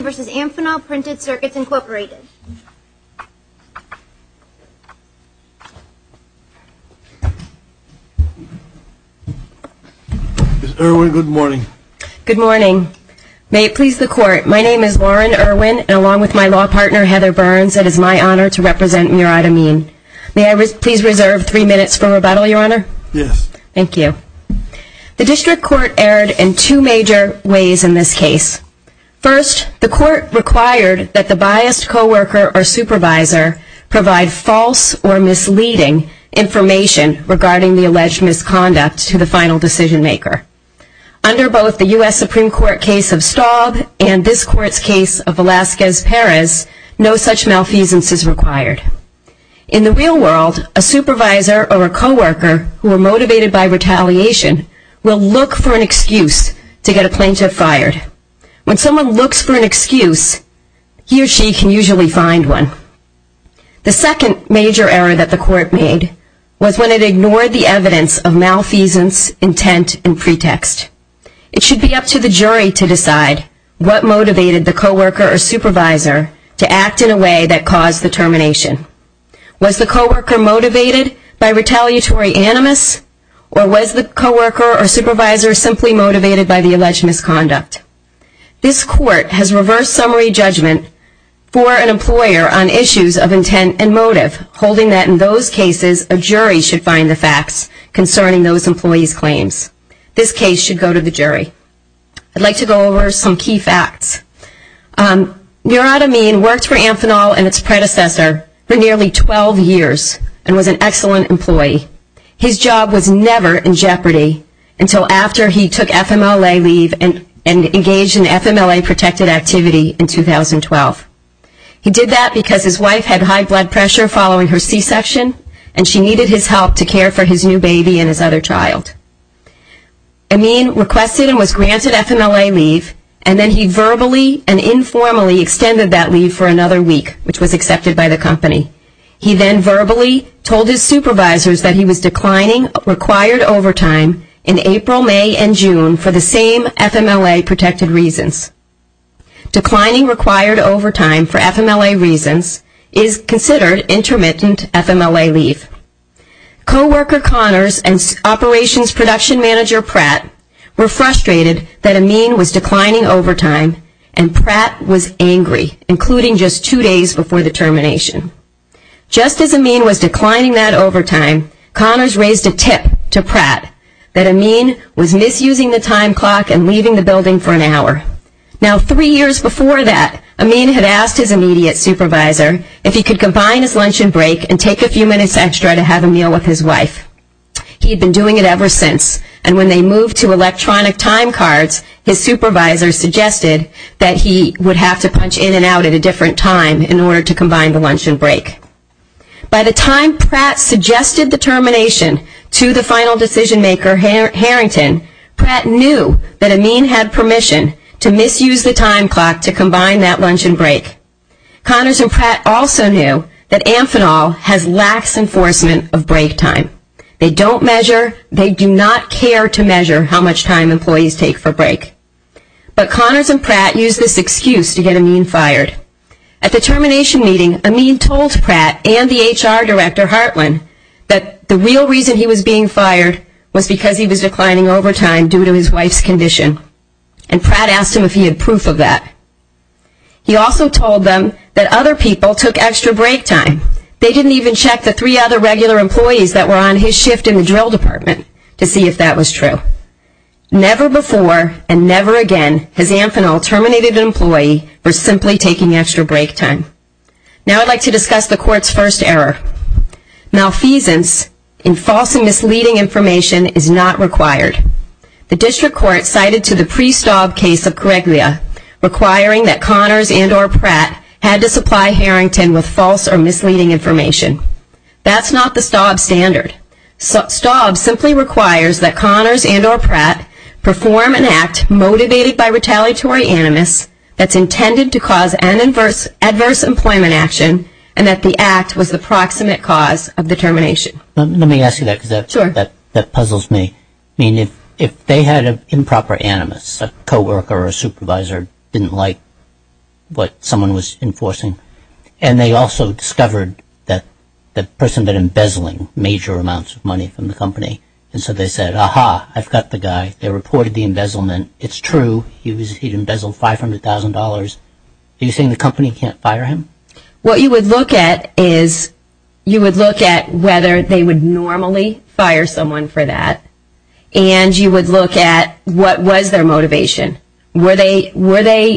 Ms. Irwin, good morning. Good morning. May it please the Court, my name is Lauren Irwin, and along with my law partner, Heather Burns, it is my honor to represent Murad Ameen. May I please reserve three minutes for rebuttal, Your Honor? Yes. Thank you. The District Court erred in two major ways in this case. First, the Court required that the biased coworker or supervisor provide false or misleading information regarding the alleged misconduct to the final decision maker. Under both the U.S. Supreme Court case of Staub and this Court's case of Velazquez Perez, no such malfeasance is required. In the real world, a supervisor or a coworker who were motivated by retaliation will look for an excuse to get a plaintiff fired. When someone looks for an excuse, he or she can usually find one. The second major error that the Court made was when it ignored the evidence of malfeasance, intent, and pretext. It should be up to the jury to decide what motivated the coworker or supervisor to act in a way that caused the termination. Was the coworker motivated by retaliatory animus or was the coworker or supervisor simply motivated by the alleged misconduct? This Court has reversed summary judgment for an employer on issues of intent and motive, holding that in those cases, a jury should find the facts concerning those employees' claims. This case should go to the jury. I would like to go over some key facts. Murad Amin worked for Amphenol and its predecessor for nearly 12 years and was an excellent employee. His job was never in jeopardy until after he took FMLA leave and engaged in FMLA-protected activity in 2012. He did that because his wife had high blood pressure following her C-section and she needed his help to care for his new baby and his other child. Amin requested and was granted FMLA leave and then he verbally and informally extended that leave for another week, which was accepted by the company. He then verbally told his supervisors that he was declining required overtime in April, May, and June for the same FMLA-protected reasons. Declining required overtime for FMLA reasons is considered intermittent FMLA-protected FMLA leave. Coworker Connors and Operations Production Manager Pratt were frustrated that Amin was declining overtime and Pratt was angry, including just two days before the termination. Just as Amin was declining that overtime, Connors raised a tip to Pratt that Amin was misusing the time clock and leaving the building for an hour. Now three years before that, Amin had asked his immediate supervisor if he could combine his lunch and break and take a few minutes extra to have a meal with his wife. He had been doing it ever since and when they moved to electronic time cards, his supervisor suggested that he would have to punch in and out at a different time in order to combine the lunch and break. By the time Pratt suggested the termination to the final decision maker, Harrington, Pratt knew that Amin had permission to misuse the time clock to combine that lunch and break. Connors and Pratt also knew that Amphenol has lax enforcement of break time. They don't measure, they do not care to measure how much time employees take for break. But Connors and Pratt used this excuse to get Amin fired. At the termination meeting, Amin told Pratt and the HR Director Hartland that the real reason he was being fired was because he was declining overtime due to his wife's condition and Pratt asked him if he had proof of that. He also told them that other people took extra break time. They didn't even check the three other regular employees that were on his shift in the drill department to see if that was true. Never before and never again has Amphenol terminated an employee for simply taking extra break time. Now I'd like to discuss the court's first error. Malfeasance in false and misleading information is not required. The district court cited to the pre-Staub case of Corregia requiring that Connors and or Pratt had to supply Harrington with false or misleading information. That's not the Staub standard. Staub simply requires that Connors and or Pratt perform an act motivated by retaliatory animus that's intended to cause adverse employment action and that the act was the proximate cause of the termination. Let me ask you that because that puzzles me. I mean if they had an improper animus, a co-worker or a supervisor didn't like what someone was enforcing and they also discovered that the person had been embezzling major amounts of money from the company and so they said, aha, I've got the guy. They reported the embezzlement. It's true. He'd embezzled $500,000. Are you saying the company can't fire him? What you would look at is you would look at whether they would normally fire someone for that and you would look at what was their motivation. Were they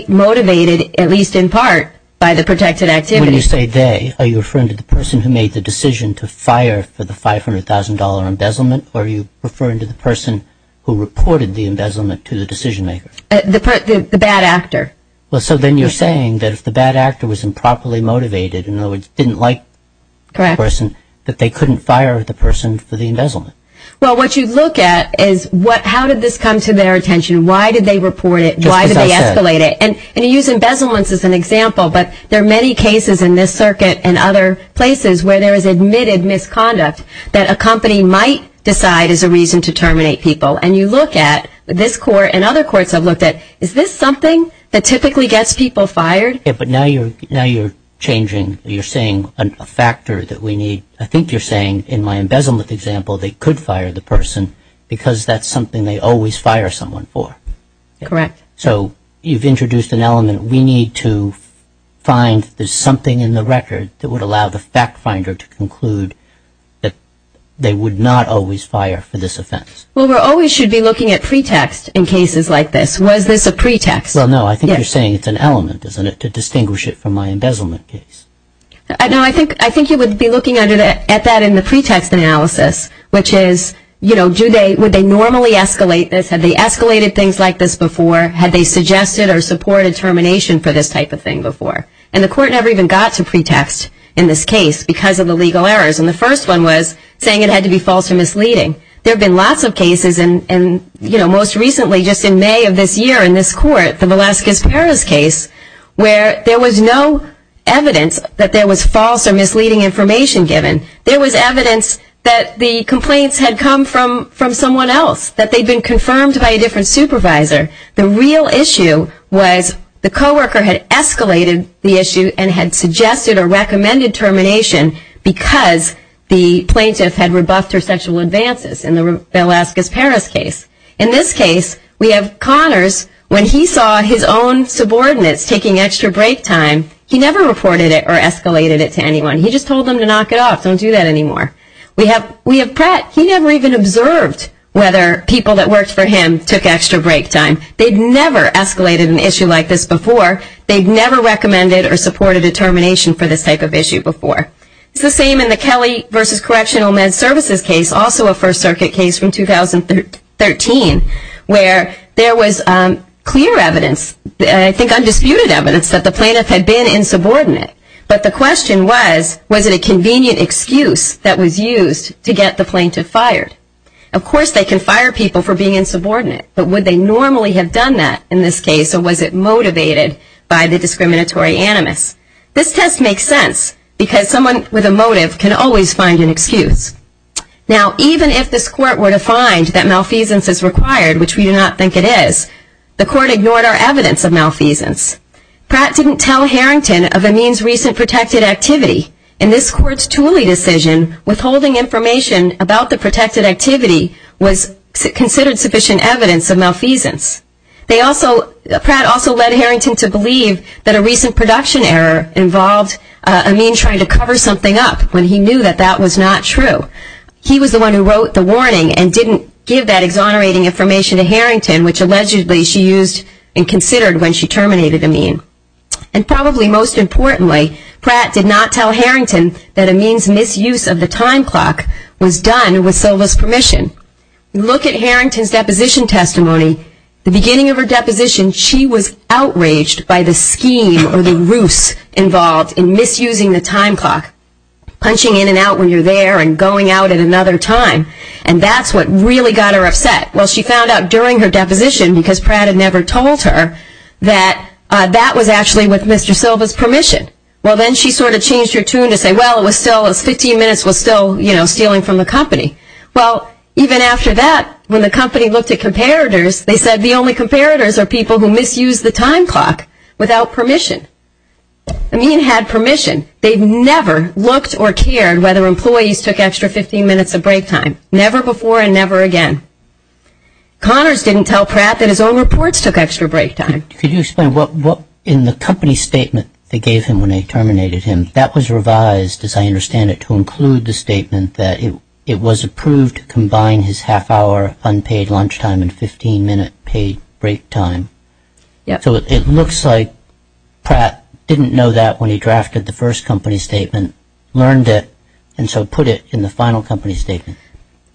motivated, at least in part, by the protected activity? When you say they, are you referring to the person who made the decision to fire for the $500,000 embezzlement or are you referring to the person who reported the embezzlement to the decision maker? The bad actor. So then you're saying that if the bad actor was improperly motivated, in other words didn't like the person, that they couldn't fire the person for the embezzlement. Well what you'd look at is how did this come to their attention? Why did they report it? Why did they escalate it? And you use embezzlements as an example but there are many cases in this circuit and other places where there is admitted misconduct that a company might decide is a reason to terminate people and you look at this court and other courts have looked at it and said is this something that typically gets people fired? But now you're changing, you're saying a factor that we need. I think you're saying in my embezzlement example they could fire the person because that's something they always fire someone for. Correct. So you've introduced an element. We need to find there's something in the record that would allow the fact finder to conclude that they would not always fire for this offense. Well we always should be looking at pretext in cases like this. Was this a pretext? Well no, I think you're saying it's an element, isn't it, to distinguish it from my embezzlement case. No, I think you would be looking at that in the pretext analysis which is would they normally escalate this? Had they escalated things like this before? Had they suggested or supported termination for this type of thing before? And the court never even got to pretext in this case because of the legal errors and the first one was saying it had to be false or misleading. There have been lots of cases and most recently just in May of this year in this court, the Velazquez-Perez case, where there was no evidence that there was false or misleading information given. There was evidence that the complaints had come from someone else, that they'd been confirmed by a different supervisor. The real issue was the coworker had escalated the issue and had suggested or recommended termination because the plaintiff had rebuffed her sexual advances in the Velazquez-Perez case. In this case we have Connors, when he saw his own subordinates taking extra break time, he never reported it or escalated it to anyone. He just told them to knock it off, don't do that anymore. We have Pratt, he never even observed whether people that worked for him took extra break time. They'd never escalated an issue like this before. They'd never recommended or supported a termination for this type of issue before. It's the same in the Kelly v. Correctional Med Services case, also a First Circuit case from 2013, where there was clear evidence, I think undisputed evidence, that the plaintiff had been insubordinate. But the question was, was it a convenient excuse that was used to get the plaintiff fired? Of course they can fire people for being insubordinate, but would they normally have done that in this case or was it motivated by the discriminatory animus? This test makes sense because someone with a motive can always find an excuse. Now even if this court were to find that malfeasance is required, which we do not think it is, the court ignored our evidence of malfeasance. Pratt didn't tell Harrington of Amin's recent protected activity. In this court's Tooley decision withholding information about the protected activity was considered sufficient evidence of malfeasance. Pratt also led Harrington to believe that a recent production error involved Amin trying to cover something up when he knew that that was not true. He was the one who wrote the warning and didn't give that exonerating information to Harrington, which allegedly she used and considered when she terminated Amin. And probably most importantly, Pratt did not tell Harrington that Amin's misuse of the time clock was done with Silva's permission. In Harrington's deposition testimony, the beginning of her deposition, she was outraged by the scheme or the ruse involved in misusing the time clock, punching in and out when you're there and going out at another time. And that's what really got her upset. Well, she found out during her deposition, because Pratt had never told her, that that was actually with Mr. Silva's permission. Well, then she sort of changed her tune to say, well, it was still, 15 minutes was still, you know, stealing from the company. Well, even after that, when the company looked at comparators, they said the only comparators are people who misuse the time clock without permission. Amin had permission. They never looked or cared whether employees took extra 15 minutes of break time. Never before and never again. Connors didn't tell Pratt that his own reports took extra break time. Could you explain what, in the company statement they gave him when they terminated him, that was revised, as I understand it, to include the statement that it was approved to combine his half hour unpaid lunchtime and 15 minute paid break time. So it looks like Pratt didn't know that when he drafted the first company statement, learned it, and so put it in the final company statement.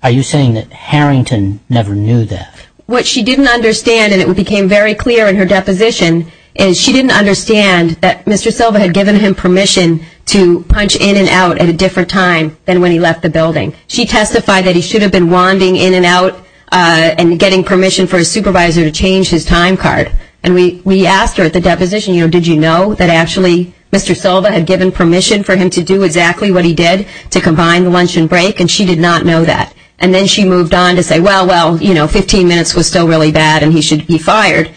Are you saying that Harrington never knew that? What she didn't understand, and it became very clear in her deposition, is she didn't understand that Mr. Silva had given him permission to punch in and out at a different time than when he left the building. She testified that he should have been wanding in and out and getting permission for his supervisor to change his time card. And we asked her at the deposition, you know, did you know that actually Mr. Silva had given permission for him to do exactly what he did to combine the lunch and break, and she did not know that. And then she moved on to say, well, well, you know, 15 minutes was still really bad and he should be fired,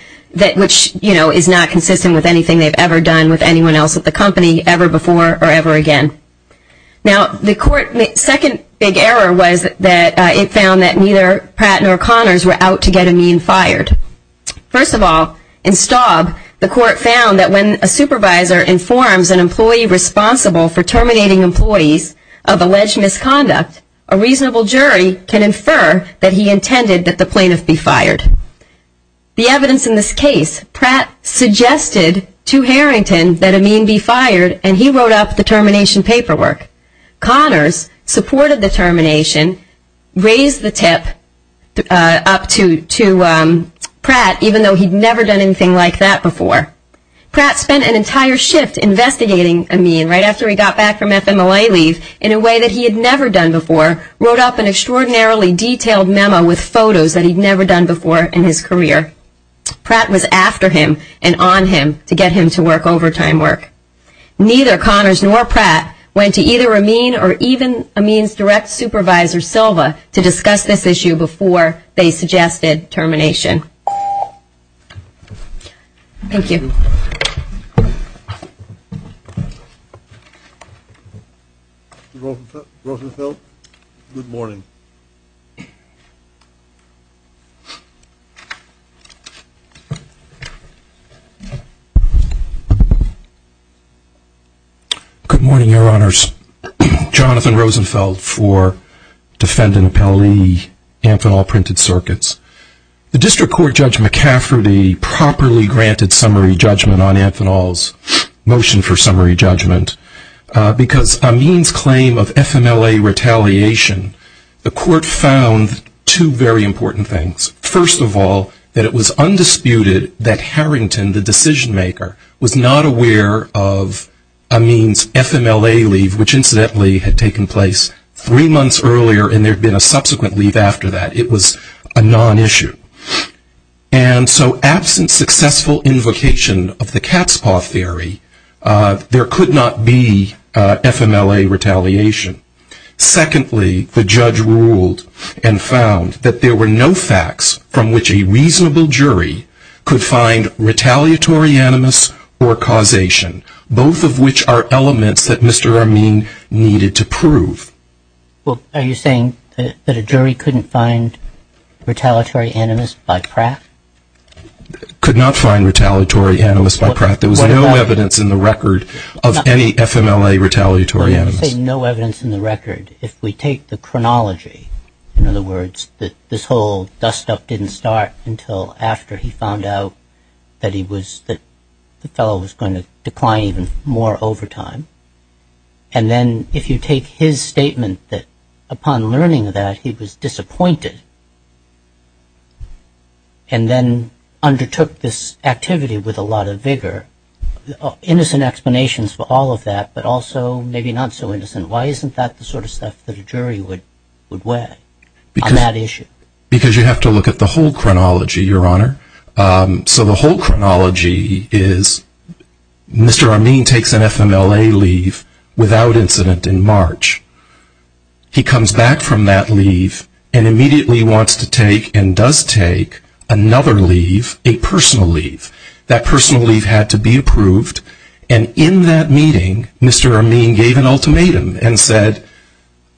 which is not consistent with anything they've ever done with anyone else at the company ever before or ever again. Now the court, the second big error was that it found that neither Pratt nor Connors were out to get Amin fired. First of all, in Staub, the court found that when a supervisor informs an employee responsible for terminating employees of alleged misconduct, a reasonable jury can infer that he intended that the plaintiff be fired. The evidence in this case, Pratt suggested to Harrington that Amin be fired and he wrote up the termination paperwork. Connors supported the termination, raised the tip up to Pratt, even though he'd never done anything like that before. Pratt spent an entire shift investigating Amin right after he got back from FMLA leave in a way that he had never done before, wrote up an extraordinarily detailed memo with photos that he'd never done before in his career. Pratt was after him and on him to get him to work overtime work. Neither Connors nor Pratt went to either Amin or even Amin's direct supervisor, Silva, to discuss this issue before they suggested termination. Thank you. Good morning, your honors. Jonathan Rosenfeld for Defendant Appellee, Amphenol Printed Circuits. The District Court Judge McCafferty properly granted summary judgment on Amphenol's motion for summary judgment because Amin's claim of FMLA retaliation, the court found two very important things. First of all, that it was undisputed that Harrington, the decision maker, was not aware of Amin's FMLA leave, which incidentally had taken place three months earlier and there had been a subsequent leave after that. It was a non-issue. And so absent successful invocation of the cat's paw theory, there could not be FMLA retaliation. Secondly, the judge ruled and found that there were no facts from which a reasonable jury could find retaliatory animus or causation, both of which are elements that Mr. Amin needed to prove. Are you saying that a jury couldn't find retaliatory animus by Pratt? Could not find retaliatory animus by Pratt. There was no evidence in the record of any FMLA retaliatory animus. No evidence in the record. If we take the chronology, in other words, this whole dust-up didn't start until after he found out that the fellow was going to decline even more over time. And then if you take his statement that upon learning that he was disappointed and then undertook this activity with a lot of vigor, innocent explanations for all of that, but also maybe not so innocent. Why isn't that the sort of stuff that a jury would weigh on that issue? Because you have to look at the whole chronology, Your Honor. So the whole chronology is Mr. Amin takes an FMLA leave without incident in March. He comes back from that leave and immediately wants to take and does take another leave, a personal leave. That personal leave had to be approved. And in that meeting, Mr. Amin gave an ultimatum and said,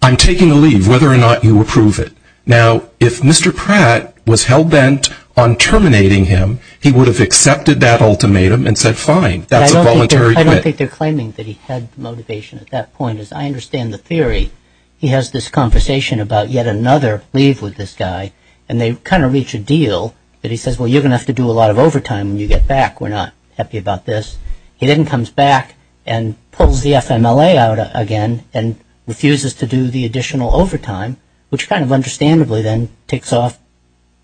I'm taking a leave whether or not you approve it. Now, if Mr. Pratt was hell-bent on terminating him, he would have accepted that ultimatum and said, fine, that's a voluntary quit. I don't think they're claiming that he had motivation at that point. As I understand the theory, he has this conversation about yet another leave with this guy. And they kind of reach a deal that he says, well, you're going to have to do a lot of overtime when you get back. We're not happy about this. He then comes back and pulls the FMLA out again and refuses to do the additional overtime, which kind of understandably then ticks off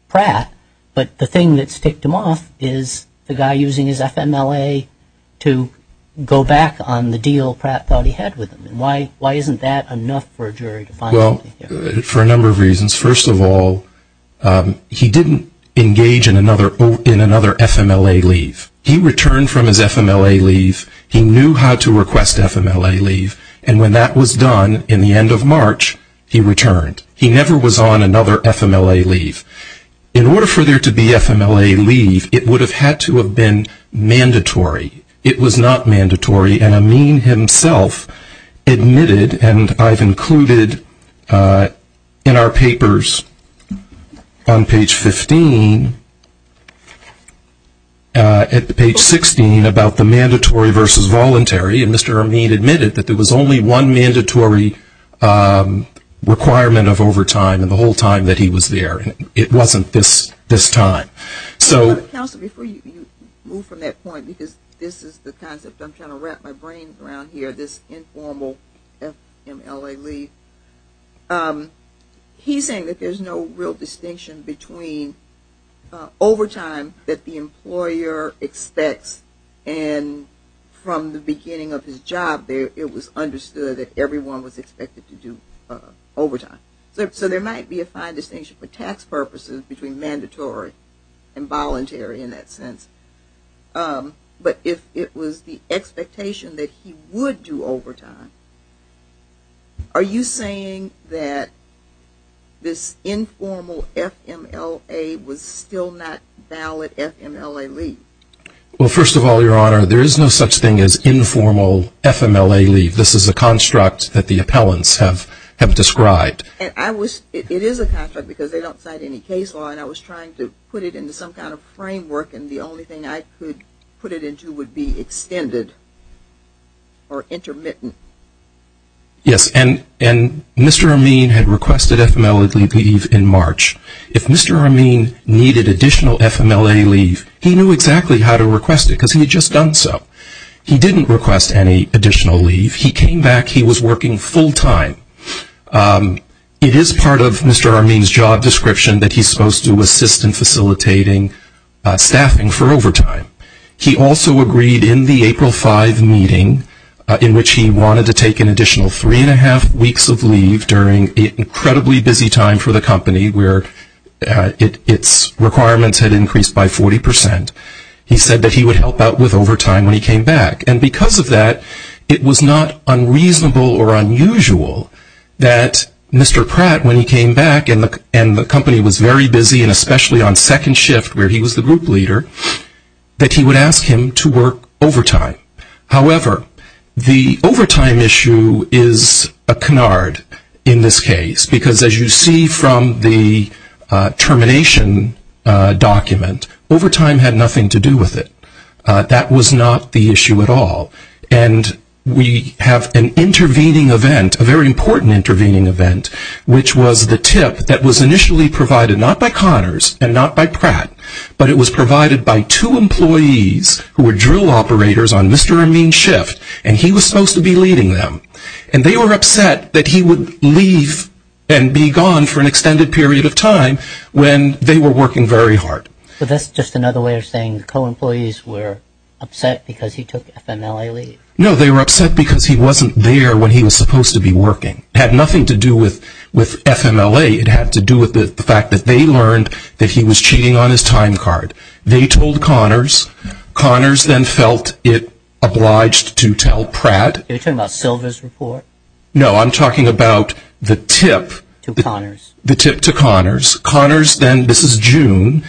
Pratt. But the thing that's ticked him off is the guy using his FMLA to go back on the deal Pratt thought he had with him. Why isn't that enough for a jury to find something here? For a number of reasons. First of all, he didn't engage in another FMLA leave. He returned from his FMLA leave. He knew how to request FMLA leave. And when that was done in the current, he never was on another FMLA leave. In order for there to be FMLA leave, it would have had to have been mandatory. It was not mandatory. And Amin himself admitted, and I've included in our papers on page 15, at page 16 about the mandatory versus voluntary, and Mr. Amin admitted that there was only one mandatory requirement of overtime in the whole time that he was there. It wasn't this time. Counselor, before you move from that point, because this is the concept I'm trying to wrap my brain around here, this informal FMLA leave. He's saying that there's no real distinction between overtime that the employer expects and from the beginning of the contract. Beginning of his job there, it was understood that everyone was expected to do overtime. So there might be a fine distinction for tax purposes between mandatory and voluntary in that sense. But if it was the expectation that he would do overtime, are you saying that this informal FMLA was still not valid FMLA leave? Well first of all, Your Honor, there is no such thing as informal FMLA leave. This is a construct that the appellants have described. It is a construct because they don't cite any case law, and I was trying to put it into some kind of framework, and the only thing I could put it into would be extended or intermittent. Yes, and Mr. Amin had requested FMLA leave in March. If Mr. Amin needed additional FMLA leave, he knew exactly how to request it because he had just done so. He didn't request any additional leave. He came back, he was working full-time. It is part of Mr. Amin's job description that he's supposed to assist in facilitating staffing for overtime. He also agreed in the April 5 meeting in which he wanted to take an additional three and a half weeks of leave during the incredibly busy time for the company where its requirements had increased by 40%. He said that he would help out with overtime when he came back, and because of that, it was not unreasonable or unusual that Mr. Pratt, when he came back and the company was very busy and especially on second shift where he was the group leader, that he would ask him to work overtime. However, the overtime issue is a canard in this case because as you see from the termination document, overtime had nothing to do with it. That was not the issue at all, and we have an intervening event, a very important intervening event, which was the tip that was initially provided not by Connors and not by Pratt, but it was provided by two employees who were drill operators on Mr. Amin's shift, and he was supposed to be leading them. And they were upset that he would leave and be gone for an extended period of time when they were working very hard. But that's just another way of saying co-employees were upset because he took FMLA leave. No, they were upset because he wasn't there when he was supposed to be working. It had nothing to do with FMLA. It had to do with the fact that they learned that he was cheating on his time card. They told Connors. Connors then felt it obliged to tell Pratt. Are you talking about Silva's report? No, I'm talking about the tip. To Connors. The tip to Connors. Connors then, this is June,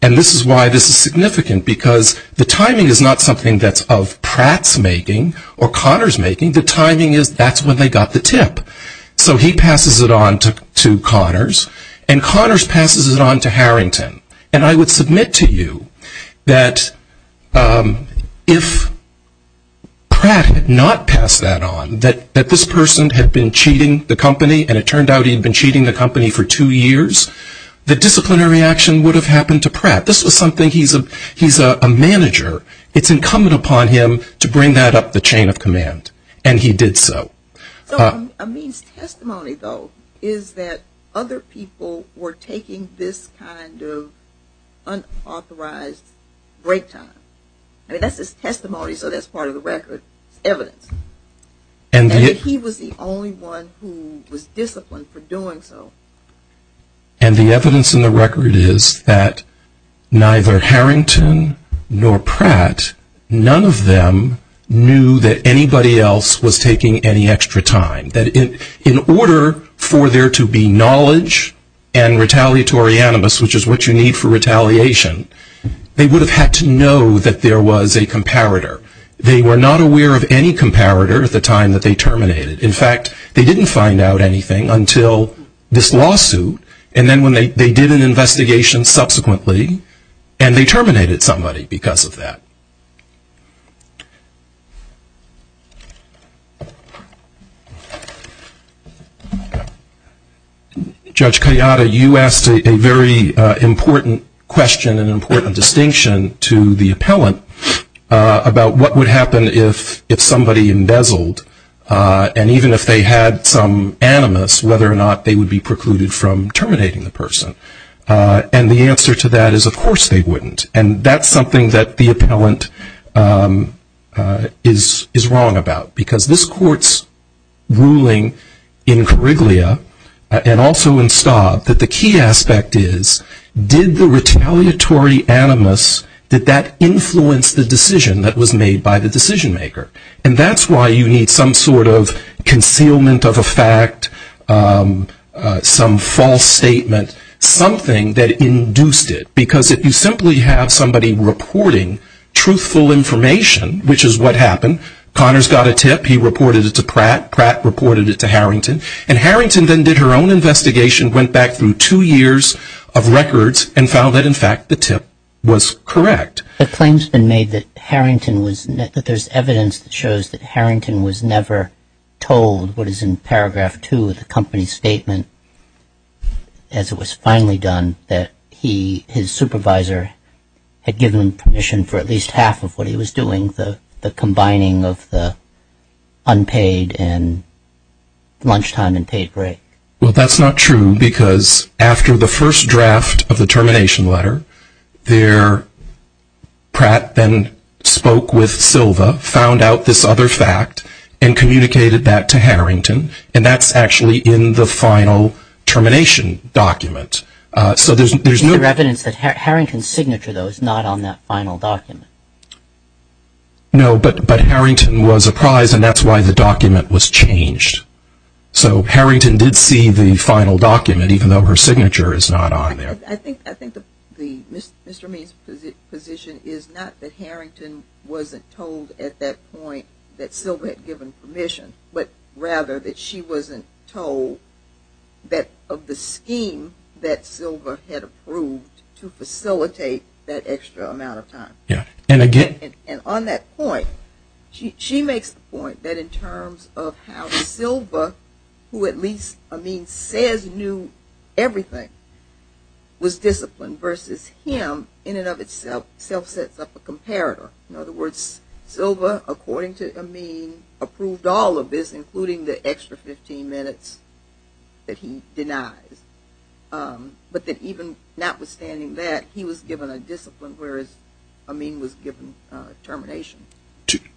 and this is why this is significant because the timing is not something that's of Pratt's making or Connors making. The timing is that's when they got the tip. So he passes it on to Connors, and Connors passes it on to Harrington. And I would submit to you that if Pratt had not passed that on, that this person had been cheating the company, and it turned out he had been cheating the company for two years, the disciplinary action would have happened to Pratt. This was something he's a manager. It's incumbent upon him to bring that up the chain of command. And he did so. Amin's testimony, though, is that other people were taking this kind of unauthorized break time. I mean, that's his testimony, so that's part of the record, evidence. And he was the only one who was disciplined for doing so. And the evidence in the record is that neither Harrington nor Pratt, none of them knew that there was any extra time. That in order for there to be knowledge and retaliatory animus, which is what you need for retaliation, they would have had to know that there was a comparator. They were not aware of any comparator at the time that they terminated. In fact, they didn't find out anything until this lawsuit, and then when they did an investigation subsequently, and they terminated somebody because of that. Judge Kayada, you asked a very important question and important distinction to the appellant about what would happen if somebody embezzled, and even if they had some animus, whether or not they would be precluded from terminating the person. And the answer to that is of course they wouldn't. And that's something that the appellant is wrong about, because this court's ruling in Coriglia, and also in Staub, that the key aspect is, did the retaliatory animus, did that influence the decision that was made by the decision maker? And that's why you need some sort of concealment of a fact, some false statement, something that induced it. Because if you simply have somebody reporting truthful information, which is what happened, Connors got a tip, he reported it to Pratt, Pratt reported it to Harrington, and Harrington then did her own investigation, went back through two years of records, and found that in fact the tip was correct. The claim's been made that Harrington was, that there's evidence that shows that Harrington was never told what is in paragraph two of the company's statement, as it was finally done, that he, his supervisor, had given him permission for at least half of what he was doing, the combining of the unpaid and lunchtime and paid break. Well, that's not true, because after the first draft of the termination letter, there, Pratt then spoke with Silva, found out this other fact, and communicated that to Harrington, and that's actually in the final termination document. So there's no evidence that Harrington's signature, though, is not on that final document. No, but Harrington was apprised, and that's why the document was changed. So Harrington did see the final document, even though her signature is not on there. I think, I think the, Mr. Mead's position is not that Harrington wasn't told at that point that Silva had given permission, but rather that she wasn't told that, of the scheme that Silva had approved to facilitate that extra amount of time. Yeah, and again... And on that point, she makes the point that in terms of how Silva, who at least Amin says knew everything, was disciplined versus him, in and of itself, self-sets up a comparator. In other words, Silva, according to Amin, approved all of this, including the extra 15 minutes that he denies. But then even notwithstanding that, he was given a discipline, whereas Amin was given termination.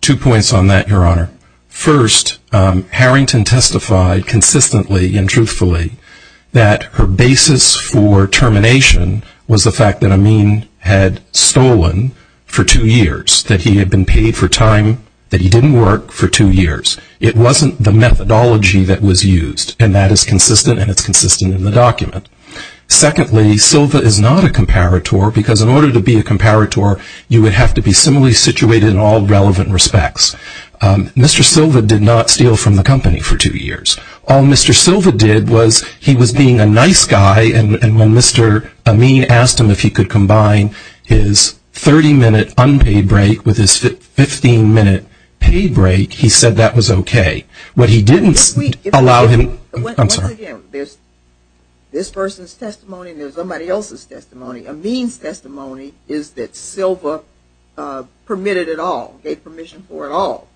Two points on that, Your Honor. First, Harrington testified consistently and truthfully that her basis for termination was the fact that Amin had stolen for two years, that he had been paid for time that he didn't work for two years. It wasn't the methodology that was used, and that is consistent, and it's consistent in the document. Secondly, Silva is not a comparator, because in order to be a comparator, you would have to be similarly situated in all relevant respects. Mr. Silva did not steal from the company for two years. All Mr. Silva did was, he was being a nice guy, and when Mr. Amin asked him if he could combine his 30-minute unpaid break with his 15-minute paid break, he said that was okay. What he didn't allow him to do, I'm sorry. This person's testimony and there's somebody else's testimony. Amin's testimony is that Silva permitted it all, gave permission for it all.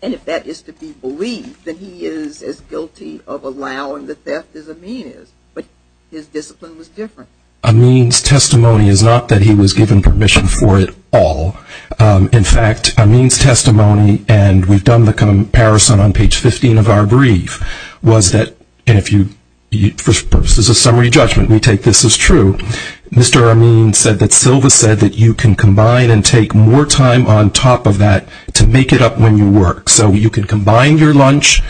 And if that is to be believed, then he is as guilty of allowing the theft as Amin is. But his discipline was different. Amin's testimony is not that he was given permission for it all. In fact, Amin's testimony, and we've done the comparison on page 15 of our brief, was that, and if you, for purposes of summary judgment, we take this as true, Mr. Amin said that Silva said that you can combine and take more time on top of that to make it up when you work. So you can combine your lunch,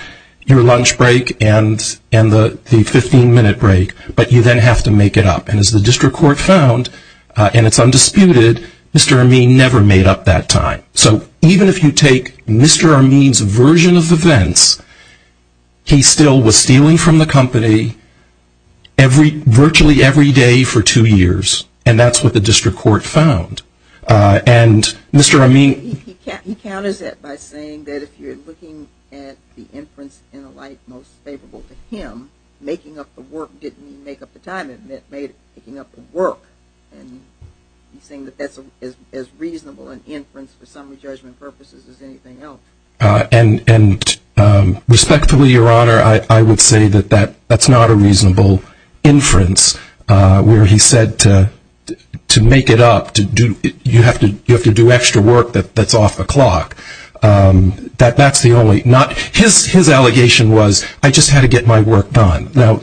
your lunch break, and the 15-minute break, but you then have to make it up. And as the district court found, and it's undisputed, Mr. Amin never made up that time. So even if you take Mr. Amin's version of events, he still was stealing from the company virtually every day for two years. And that's what the district court found. And Mr. Amin... He counters it by saying that if you're looking at the inference in a light most favorable to him, making up the work didn't mean make up the time, it meant making up the work. And he's saying that that's as reasonable an inference for summary judgment purposes as anything else. And respectfully, Your Honor, I would say that that's not a reasonable inference where he said to make it up, to do, you have to do extra work that's off the clock. That's the only, not, his allegation was, I just had to get my work done. Now,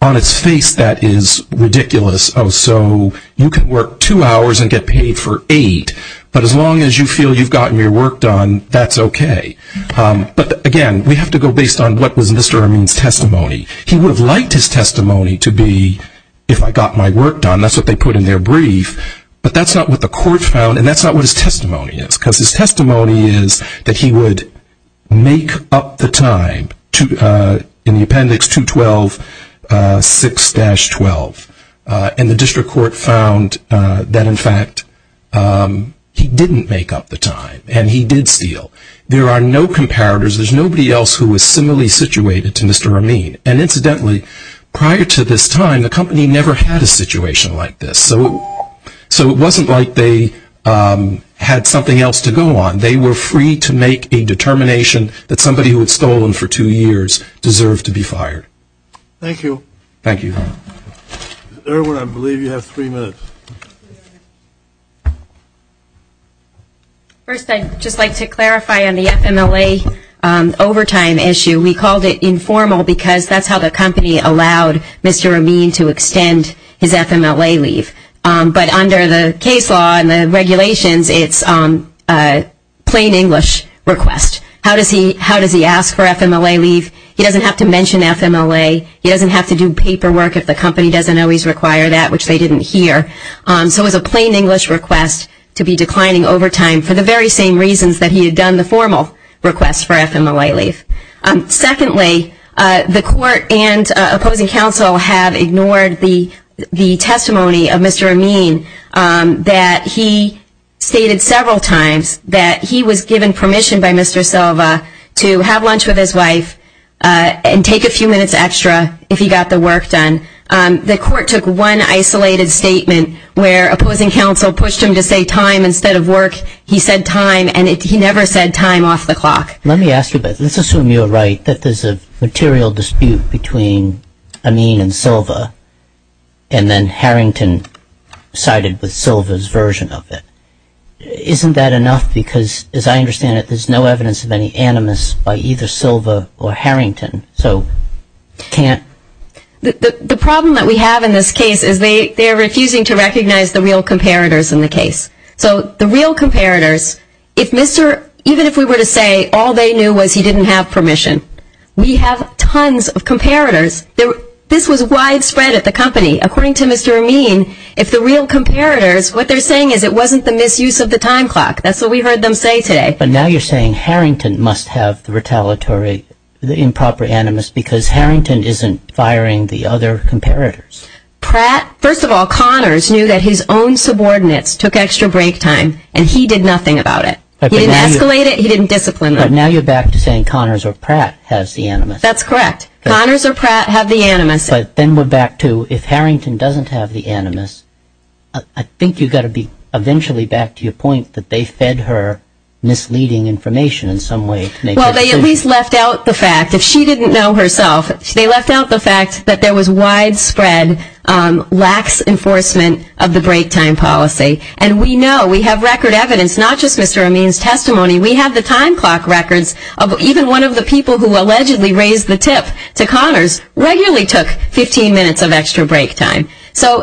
on its face that is ridiculous. Oh, so you can work two hours and get paid for eight, but as long as you feel you've gotten your work done, that's okay. But again, we have to go based on what was Mr. Amin's testimony. He would have liked his testimony to be, if I got my work done, that's what they put in their brief. But that's not what the court found, and that's not what his testimony is. Because his testimony is that he would make up the time, in the case of 9-12. And the district court found that, in fact, he didn't make up the time, and he did steal. There are no comparators. There's nobody else who was similarly situated to Mr. Amin. And incidentally, prior to this time, the company never had a situation like this. So it wasn't like they had something else to go on. They were free to make a determination that somebody who had stolen for two years deserved to be fired. Thank you. Thank you. Irwin, I believe you have three minutes. First, I'd just like to clarify on the FMLA overtime issue. We called it informal because that's how the company allowed Mr. Amin to extend his FMLA leave. But under the case law and the regulations, it's a plain English request. How does he ask for FMLA leave? He doesn't have to mention FMLA. He doesn't have to do paperwork if the company doesn't always require that, which they didn't hear. So it was a plain English request to be declining overtime for the very same reasons that he had done the formal request for FMLA leave. Secondly, the court and opposing counsel have ignored the testimony of Mr. Amin that he stated several times that he was given permission by Mr. Silva to have lunch with his wife and take a few minutes extra if he got the work done. The court took one isolated statement where opposing counsel pushed him to say time instead of work. He said time, and he never said time off the clock. Let me ask you this. Let's assume you're right, that there's a material dispute between Amin and Silva, and then Harrington sided with Silva's version of it. Isn't that enough? Because as I understand it, there's no evidence of any animus by either Silva or Harrington. So can't... The problem that we have in this case is they're refusing to recognize the real comparators in the case. So the real comparators, if Mr. Even if we were to say all they knew was he didn't have permission, we have tons of comparators. This was widespread at the company. According to Mr. Amin, if the real comparators, what they're saying is it wasn't the misuse of the time clock. That's what we heard them say today. But now you're saying Harrington must have the retaliatory, the improper animus because Harrington isn't firing the other comparators. Pratt, first of all, Connors knew that his own subordinates took extra break time, and he did nothing about it. He didn't escalate it. He didn't discipline them. But now you're back to saying Connors or Pratt has the animus. That's correct. Connors or Pratt have the animus. But then we're back to if Harrington doesn't have the animus, I think you've got to be conventionally back to your point that they fed her misleading information in some way. Well, they at least left out the fact, if she didn't know herself, they left out the fact that there was widespread lax enforcement of the break time policy. And we know, we have record evidence, not just Mr. Amin's testimony, we have the time clock records of even one of the people who allegedly raised the tip to Connors regularly took 15 minutes of extra break time.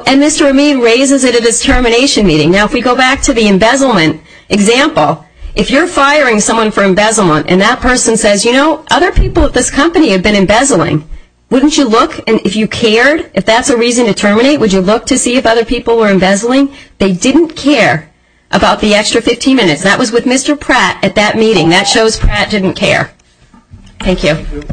And Mr. Amin raises it at his termination meeting. Now, if we go back to the embezzlement example, if you're firing someone for embezzlement and that person says, you know, other people at this company have been embezzling, wouldn't you look, and if you cared, if that's a reason to terminate, would you look to see if other people were embezzling? They didn't care about the extra 15 minutes. That was with Mr. Pratt at that meeting. That shows Pratt didn't care. Thank you.